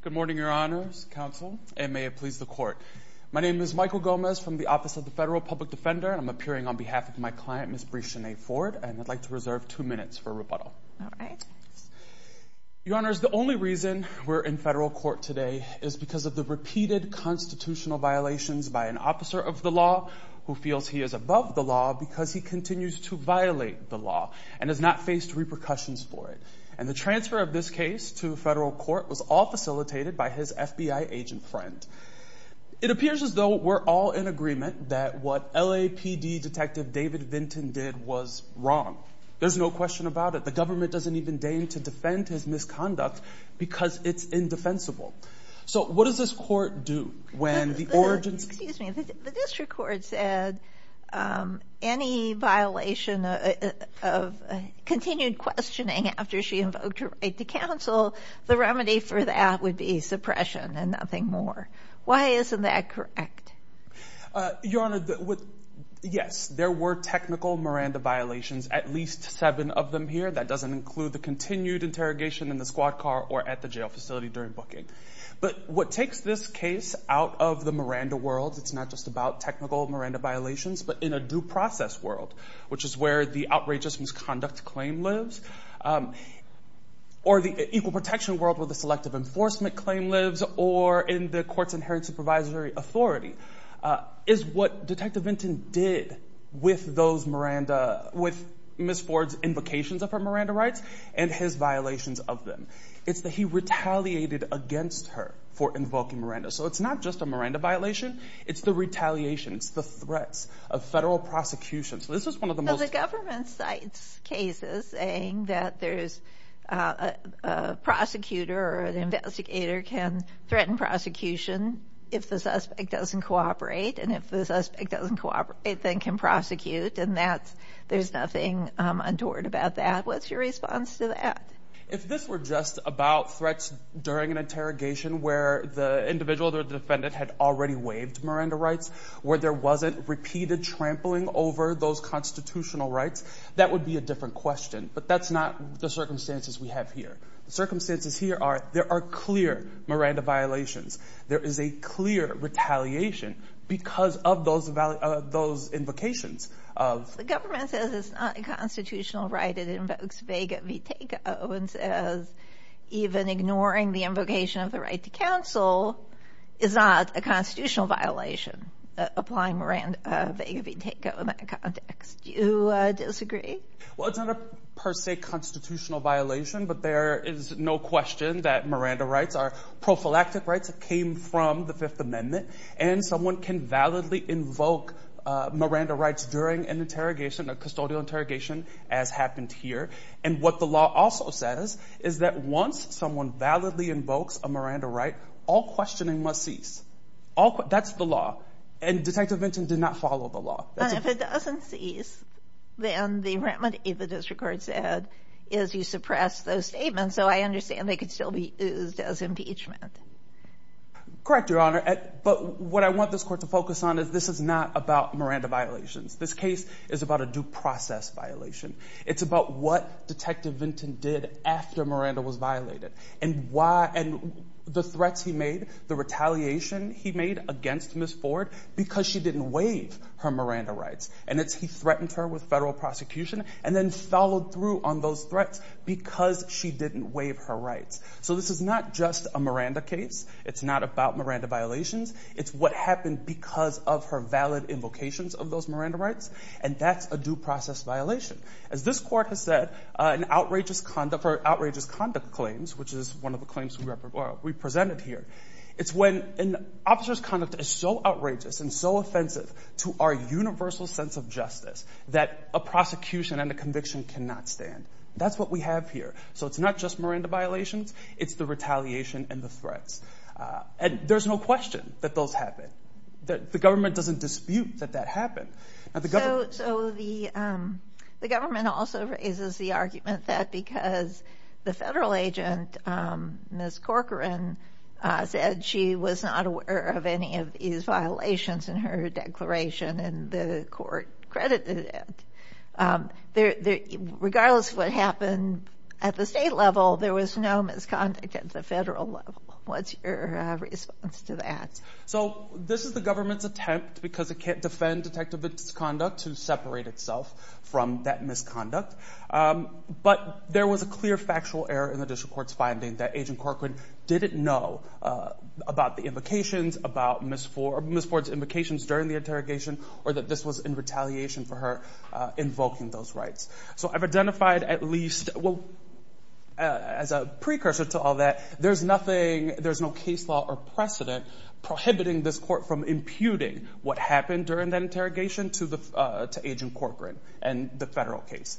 Good morning, your honors, counsel, and may it please the court. My name is Michael Gomez from the Office of the Federal Public Defender, and I'm appearing on behalf of my client, Ms. Brie Shanae Ford, and I'd like to reserve two minutes for rebuttal. All right. Your honors, the only reason we're in federal court today is because of the repeated constitutional violations by an officer of the law who feels he is above the law because he continues to violate the law and has not faced repercussions for it. And the transfer of this case to federal court was all facilitated by his FBI agent friend. It appears as though we're all in agreement that what LAPD Detective David Vinton did was wrong. There's no question about it. The government doesn't even deign to defend his misconduct because it's indefensible. So what does this court do when the origins... Excuse me. The district court said any violation of continued questioning after she invoked her right to counsel, the remedy for that would be suppression and nothing more. Why isn't that correct? Your honor, yes, there were technical Miranda violations, at least seven of them here. That doesn't include the continued interrogation in the squad car or at the jail facility during the booking. But what takes this case out of the Miranda world, it's not just about technical Miranda violations, but in a due process world, which is where the outrageous misconduct claim lives, or the equal protection world where the selective enforcement claim lives, or in the courts inherited supervisory authority, is what Detective Vinton did with those Miranda... With Ms. Ford's invocations of her Miranda rights and his violations of them. It's that he retaliated against her for invoking Miranda. So it's not just a Miranda violation, it's the retaliation, it's the threats of federal prosecution. So this is one of the most... But the government cites cases saying that there's a prosecutor or an investigator can threaten prosecution if the suspect doesn't cooperate, and if the suspect doesn't cooperate then can prosecute, and there's nothing untoward about that. What's your response to that? If this were just about threats during an interrogation where the individual or the defendant had already waived Miranda rights, where there wasn't repeated trampling over those constitutional rights, that would be a different question, but that's not the circumstances we have here. The circumstances here are, there are clear Miranda violations, there is a clear retaliation because of those invocations of... If the government says it's not a constitutional right, it invokes Vega v. Takeau, and says even ignoring the invocation of the right to counsel is not a constitutional violation, applying Vega v. Takeau in that context. Do you disagree? Well, it's not a per se constitutional violation, but there is no question that Miranda rights are prophylactic rights that came from the Fifth Amendment, and someone can validly invoke Miranda rights during an interrogation, a custodial interrogation, as happened here, and what the law also says is that once someone validly invokes a Miranda right, all questioning must cease. That's the law, and Detective Benson did not follow the law. And if it doesn't cease, then the remedy, the district court said, is you suppress those statements, so I understand they could still be used as impeachment. Correct, Your Honor. But what I want this court to focus on is this is not about Miranda violations. This case is about a due process violation. It's about what Detective Vinton did after Miranda was violated, and the threats he made, the retaliation he made against Ms. Ford because she didn't waive her Miranda rights. And it's he threatened her with federal prosecution, and then followed through on those threats because she didn't waive her rights. So this is not just a Miranda case. It's not about Miranda violations. It's what happened because of her valid invocations of those Miranda rights, and that's a due process violation. As this court has said, an outrageous conduct for outrageous conduct claims, which is one of the claims we presented here, it's when an officer's conduct is so outrageous and so offensive to our universal sense of justice that a prosecution and a conviction cannot stand. That's what we have here. So it's not just Miranda violations. It's the retaliation and the threats. And there's no question that those happen. The government doesn't dispute that that happened. The government also raises the argument that because the federal agent, Ms. Corcoran, said she was not aware of any of these violations in her declaration, and the court credited it, regardless of what happened at the state level, there was no misconduct at the federal level. What's your response to that? So this is the government's attempt, because it can't defend detective misconduct, to separate itself from that misconduct. But there was a clear factual error in the district court's finding that Agent Corcoran didn't know about the invocations, about Ms. Ford's invocations during the interrogation, or that this was in retaliation for her invoking those rights. So I've identified at least, well, as a precursor to all that, there's nothing, there's no case law or precedent prohibiting this court from imputing what happened during that interrogation to Agent Corcoran and the federal case.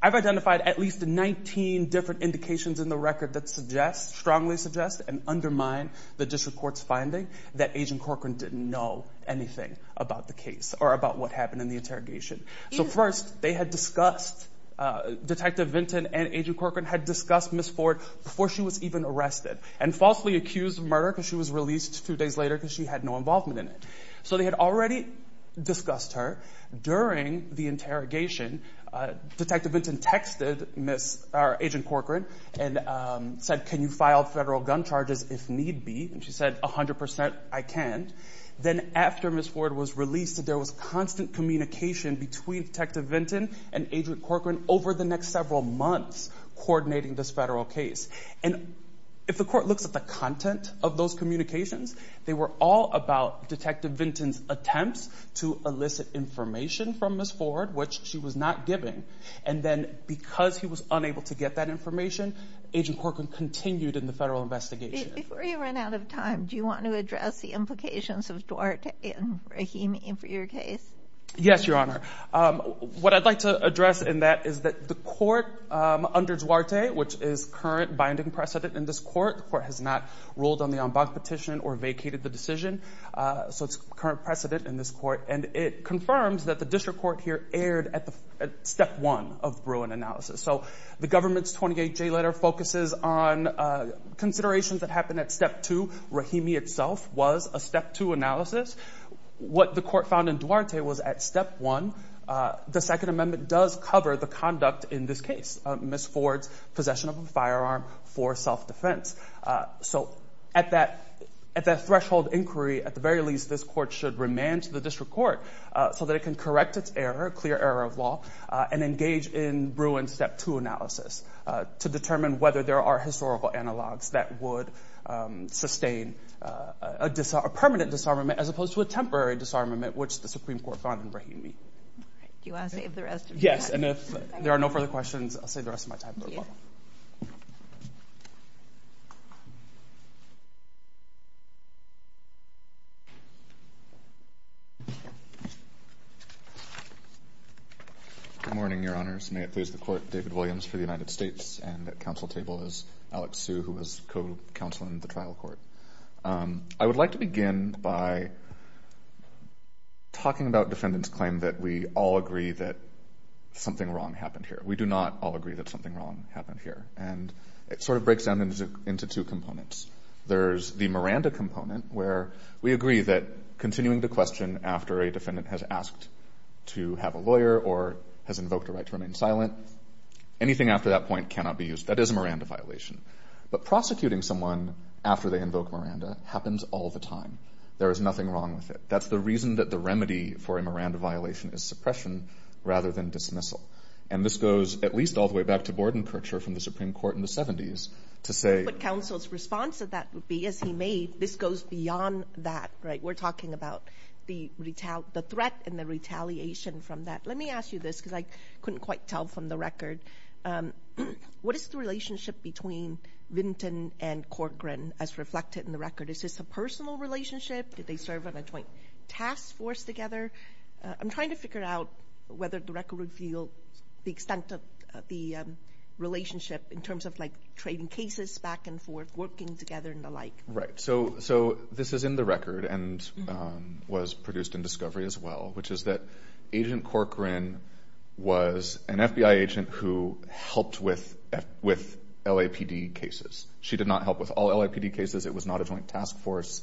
I've identified at least 19 different indications in the record that suggest, strongly suggest, and undermine the district court's finding that Agent Corcoran didn't know anything about the case, or about what happened in the interrogation. So first, they had discussed, Detective Vinton and Agent Corcoran had discussed Ms. Ford before she was even arrested, and falsely accused of murder because she was released two days later because she had no involvement in it. So they had already discussed her during the interrogation. Detective Vinton texted Agent Corcoran and said, can you file federal gun charges if need be? And she said, 100 percent, I can. Then after Ms. Ford was released, there was constant communication between Detective Vinton and Agent Corcoran over the next several months coordinating this federal case. And if the court looks at the content of those communications, they were all about Detective Vinton's attempts to elicit information from Ms. Ford, which she was not giving. And then because he was unable to get that information, Agent Corcoran continued in the federal investigation. Before you run out of time, do you want to address the implications of Duarte and Rahim for your case? Yes, Your Honor. What I'd like to address in that is that the court under Duarte, which is current binding precedent in this court, the court has not ruled on the en banc petition or vacated the decision. So it's current precedent in this court. And it confirms that the district court here erred at step one of Bruin analysis. So the government's 28-J letter focuses on considerations that happened at step two. Rahimi itself was a step two analysis. What the court found in Duarte was at step one, the Second Amendment does cover the conduct in this case, Ms. Ford's possession of a firearm for self-defense. So at that threshold inquiry, at the very least, this court should remand to the district court so that it can correct its error, clear error of law, and engage in Bruin's step two analysis to determine whether there are historical analogs that would sustain a permanent disarmament as opposed to a temporary disarmament, which the Supreme Court found in Rahimi. Do you want to save the rest of your time? Yes, and if there are no further questions, I'll save the rest of my time. Good morning, Your Honors. May it please the Court, David Williams for the United States, and at counsel table is Alex Hsu, who is co-counsel in the trial court. I would like to begin by talking about defendants' claim that we all agree that something wrong happened here. We do not all agree that something wrong happened here. And it sort of breaks down into two components. There's the Miranda component, where we agree that continuing to question after a defendant has asked to have a lawyer or has invoked a right to remain silent, anything after that point cannot be used. That is a Miranda violation. But prosecuting someone after they invoke Miranda happens all the time. There is nothing wrong with it. That's the reason that the remedy for a Miranda violation is suppression rather than dismissal. And this goes at least all the way back to Bordenkercher from the Supreme Court in the 70s to say... But counsel's response to that would be, as he made, this goes beyond that, right? We're talking about the threat and the retaliation from that. Let me ask you this, because I couldn't quite tell from the record. What is the relationship between Vinton and Corcoran as reflected in the record? Is this a personal relationship? Did they serve on a joint task force together? I'm trying to figure out whether the record revealed the extent of the relationship in terms of trading cases back and forth, working together and the like. Right. So this is in the record and was produced in Discovery as well, which is that Agent Corcoran was an FBI agent who helped with LAPD cases. She did not help with all LAPD cases. It was not a joint task force.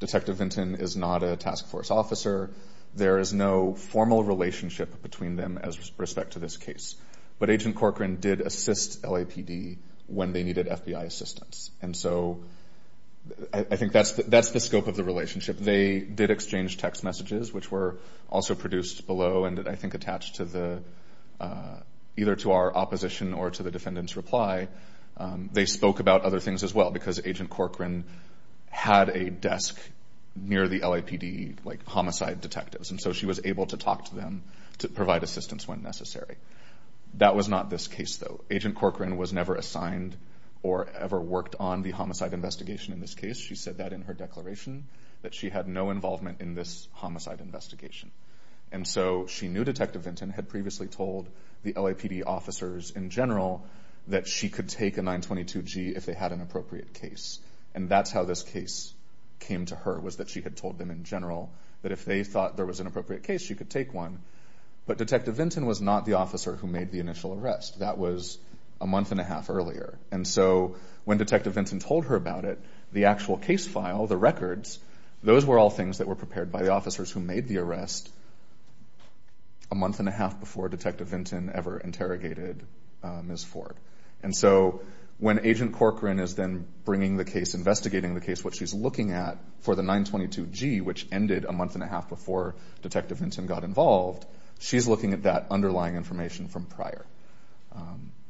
Detective Vinton is not a task force officer. There is no formal relationship between them as respect to this case. But Agent Corcoran did assist LAPD when they needed FBI assistance. And so I think that's the scope of the relationship. They did exchange text messages, which were also produced below and I think attached either to our opposition or to the defendant's reply. They spoke about other things as well because Agent Corcoran had a desk near the LAPD homicide detectives and so she was able to talk to them to provide assistance when necessary. That was not this case though. Agent Corcoran was never assigned or ever worked on the homicide investigation in this case. She said that in her declaration, that she had no involvement in this homicide investigation. And so she knew Detective Vinton had previously told the LAPD officers in general that she could take a 922G if they had an appropriate case. And that's how this case came to her, was that she had told them in general that if they thought there was an appropriate case, she could take one. But Detective Vinton was not the officer who made the initial arrest. That was a month and a half earlier. And so when Detective Vinton told her about it, the actual case file, the records, those were all things that were prepared by the officers who made the arrest a month and a half before Detective Vinton ever interrogated Ms. Ford. And so when Agent Corcoran is then bringing the case, investigating the case, what she's looking at for the 922G, which ended a month and a half before Detective Vinton got involved, she's looking at that underlying information from prior.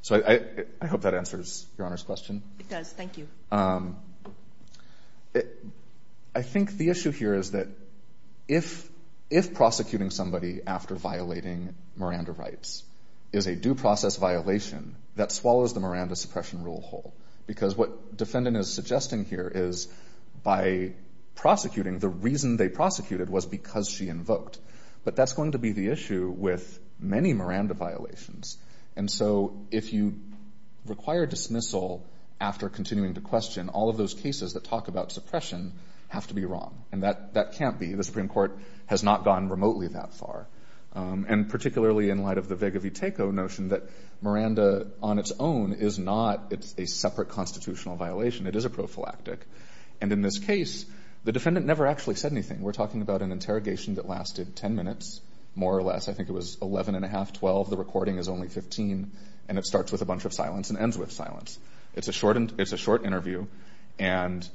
So I hope that answers Your Honor's question. It does. Thank you. I think the issue here is that if prosecuting somebody after violating Miranda rights is a due process violation, that swallows the Miranda suppression rule whole. Because what defendant is suggesting here is by prosecuting, the reason they prosecuted was because she invoked. But that's going to be the issue with many Miranda violations. And so if you require dismissal after continuing to question, all of those cases that talk about suppression have to be wrong. And that can't be. The Supreme Court has not gone remotely that far. And particularly in light of the Vega Viteko notion that Miranda on its own is not a separate constitutional violation. It is a prophylactic. And in this case, the defendant never actually said anything. We're talking about an interrogation that lasted 10 minutes, more or less. I think it was 11 and a half, 12. The recording is only 15. And it starts with a bunch of silence and ends with silence. It's a short interview. And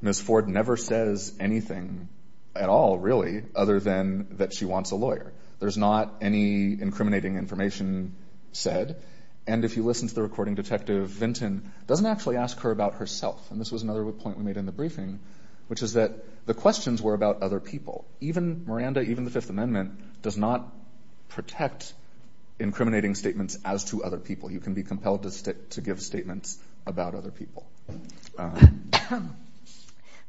Ms. Ford never says anything at all, really, other than that she wants a lawyer. There's not any incriminating information said. And if you listen to the recording, Detective Vinton doesn't actually ask her about herself. And this was another point we made in the briefing, which is that the questions were about other people. Even Miranda, even the Fifth Amendment, does not protect incriminating statements as to other people. You can be compelled to give statements about other people.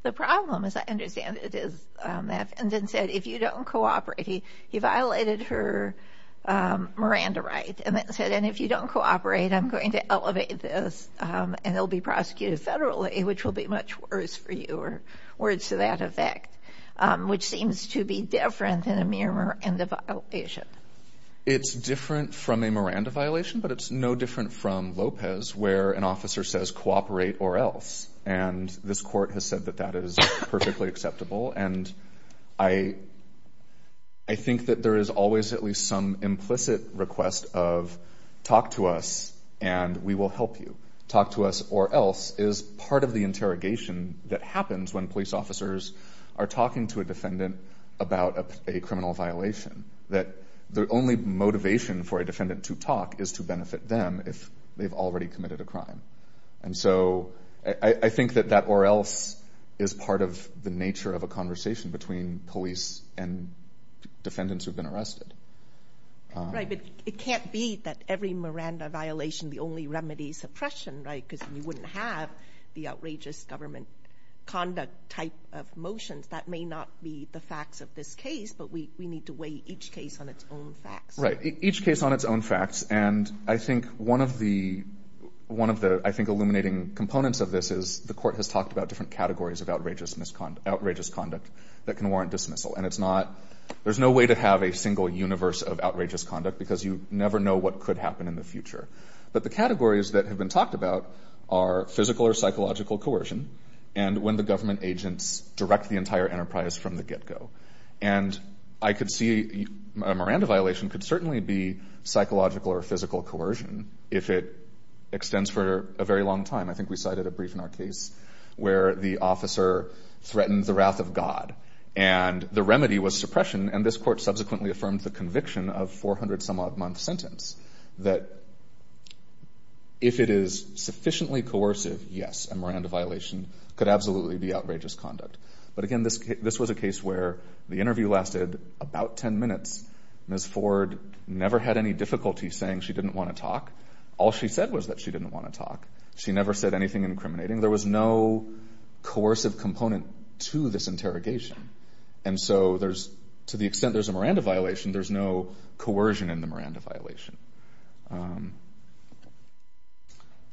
The problem, as I understand it, is the defendant said, if you don't cooperate. He violated her Miranda right and then said, and if you don't cooperate, I'm going to elevate this and it'll be prosecuted federally, which will be much worse for you, or words to that effect, which seems to be different than a mere Miranda violation. It's different from a Miranda violation, but it's no different from Lopez, where an officer says cooperate or else. And this court has said that that is perfectly acceptable. And I think that there is always at least some implicit request of talk to us and we will help you. Talk to us or else is part of the interrogation that happens when police officers are talking to a defendant about a criminal violation, that the only motivation for a defendant to talk is to benefit them if they've already committed a crime. And so I think that that or else is part of the nature of a conversation between police and defendants who've been arrested. Right. But it can't be that every Miranda violation, the only remedy is suppression, right? Because you wouldn't have the outrageous government conduct type of motions. That may not be the facts of this case, but we need to weigh each case on its own facts. Each case on its own facts. And I think one of the, I think, illuminating components of this is the court has talked about different categories of outrageous misconduct, outrageous conduct that can warrant dismissal. And it's not, there's no way to have a single universe of outrageous conduct because you never know what could happen in the future. But the categories that have been talked about are physical or psychological coercion. And when the government agents direct the entire enterprise from the get go. And I could see, a Miranda violation could certainly be psychological or physical coercion if it extends for a very long time. I think we cited a brief in our case where the officer threatened the wrath of God and the remedy was suppression. And this court subsequently affirmed the conviction of 400 some odd month sentence that if it is sufficiently coercive, yes, a Miranda violation could absolutely be outrageous conduct. But again, this was a case where the interview lasted about 10 minutes. Ms. Ford never had any difficulty saying she didn't want to talk. All she said was that she didn't want to talk. She never said anything incriminating. There was no coercive component to this interrogation. And so there's, to the extent there's a Miranda violation, there's no coercion in the Miranda violation.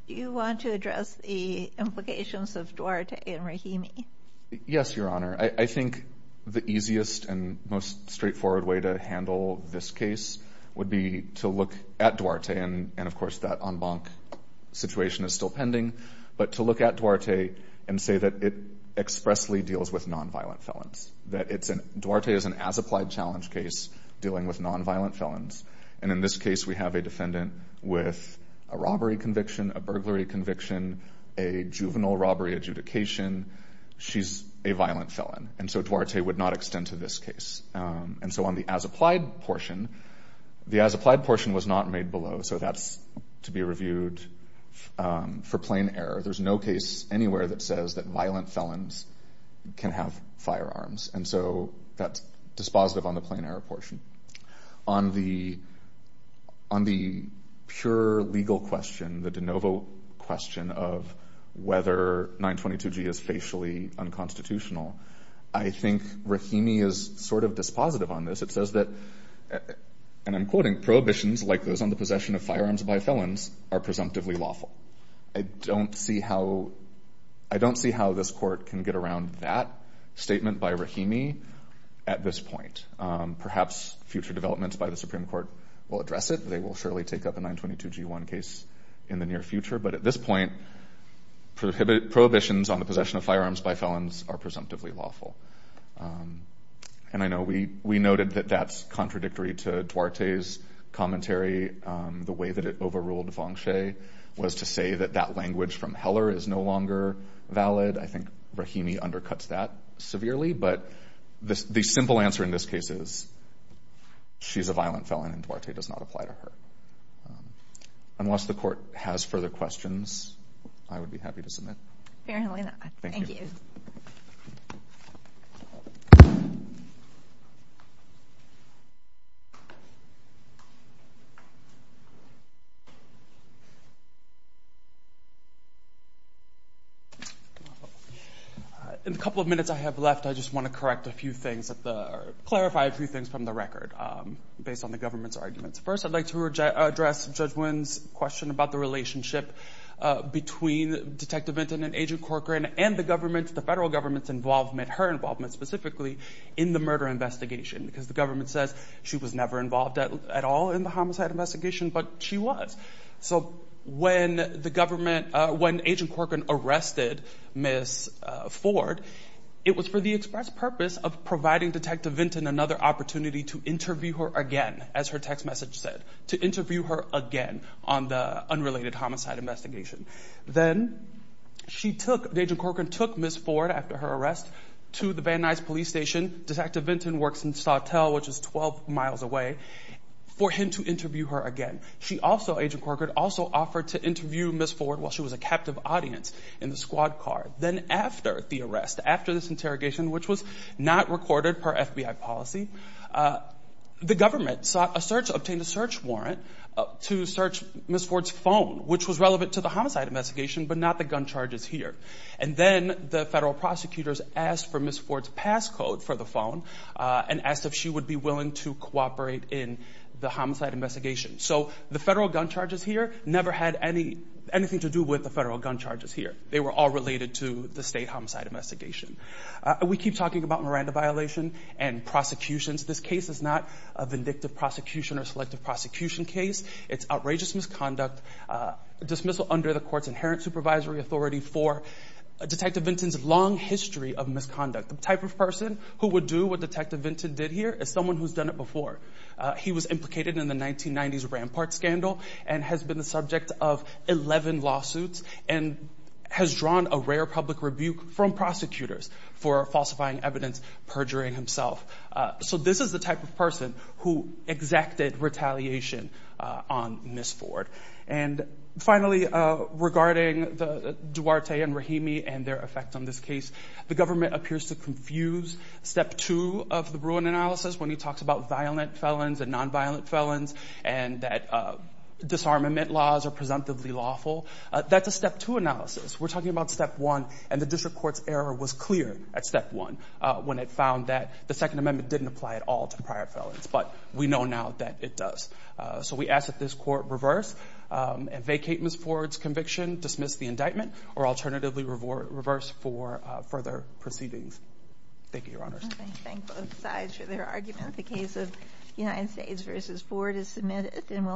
Do you want to address the implications of Duarte and Rahimi? Yes, your honor. I think the easiest and most straightforward way to handle this case would be to look at Duarte and of course that en banc situation is still pending. But to look at Duarte and say that it expressly deals with nonviolent felons. That Duarte is an as applied challenge case dealing with nonviolent felons. And in this case, we have a defendant with a robbery conviction, a burglary conviction, a juvenile robbery adjudication. She's a violent felon. And so Duarte would not extend to this case. And so on the as applied portion, the as applied portion was not made below. So that's to be reviewed for plain error. There's no case anywhere that says that violent felons can have firearms. And so that's dispositive on the plain error portion. On the pure legal question, the de novo question of whether 922G is facially unconstitutional, I think Rahimi is sort of dispositive on this. It says that, and I'm quoting, prohibitions like those on the possession of firearms by felons are presumptively lawful. I don't see how this court can get around that statement by Rahimi at this point. Perhaps future developments by the Supreme Court will address it. They will surely take up a 922G1 case in the near future. But at this point, prohibitions on the possession of firearms by felons are presumptively lawful. And I know we noted that that's contradictory to Duarte's commentary. The way that it overruled Feng Shui was to say that that language from Heller is no longer valid. I think Rahimi undercuts that severely. But the simple answer in this case is she's a violent felon and Duarte does not apply to her. Unless the court has further questions, I would be happy to submit. Fair enough. Thank you. In the couple of minutes I have left, I just want to correct a few things, clarify a few things from the record based on the government's arguments. First, I'd like to address Judge Wynn's question about the relationship between Detective Vinton and Agent Corcoran and the federal government's involvement, her involvement specifically, in the murder investigation because the government says she was never involved at all in the homicide investigation, but she was. So when Agent Corcoran arrested Ms. Ford, it was for the express purpose of providing Detective Vinton another opportunity to interview her again, as her text message said, to interview her again on the unrelated homicide investigation. Then, Agent Corcoran took Ms. Ford after her arrest to the Van Nuys police station, Detective Vinton works in Sawtelle, which is 12 miles away, for him to interview her again. She also, Agent Corcoran, also offered to interview Ms. Ford while she was a captive audience in the squad car. Then after the arrest, after this interrogation, which was not recorded per FBI policy, the government obtained a search warrant to search Ms. Ford's phone, which was relevant to the homicide investigation, but not the gun charges here. And then the federal prosecutors asked for Ms. Ford's passcode for the phone and asked if she would be willing to cooperate in the homicide investigation. So the federal gun charges here never had anything to do with the federal gun charges here. They were all related to the state homicide investigation. We keep talking about Miranda violation and prosecutions. This case is not a vindictive prosecution or selective prosecution case. It's outrageous misconduct, dismissal under the court's inherent supervisory authority for Detective Vinton's long history of misconduct. The type of person who would do what Detective Vinton did here is someone who's done it before. He was implicated in the 1990s Rampart scandal and has been the subject of 11 lawsuits and has drawn a rare public rebuke from prosecutors for falsifying evidence, perjuring himself. So this is the type of person who exacted retaliation on Ms. Ford. And finally, regarding Duarte and Rahimi and their effect on this case, the government appears to confuse step two of the Bruin analysis when he talks about violent felons and nonviolent felons and that disarmament laws are presumptively lawful. That's a step two analysis. We're talking about step one, and the district court's error was clear at step one when it found that the Second Amendment didn't apply at all to prior felons. But we know now that it does. So we ask that this court reverse and vacate Ms. Ford's conviction, dismiss the indictment, or alternatively reverse for further proceedings. Thank you, Your Honors.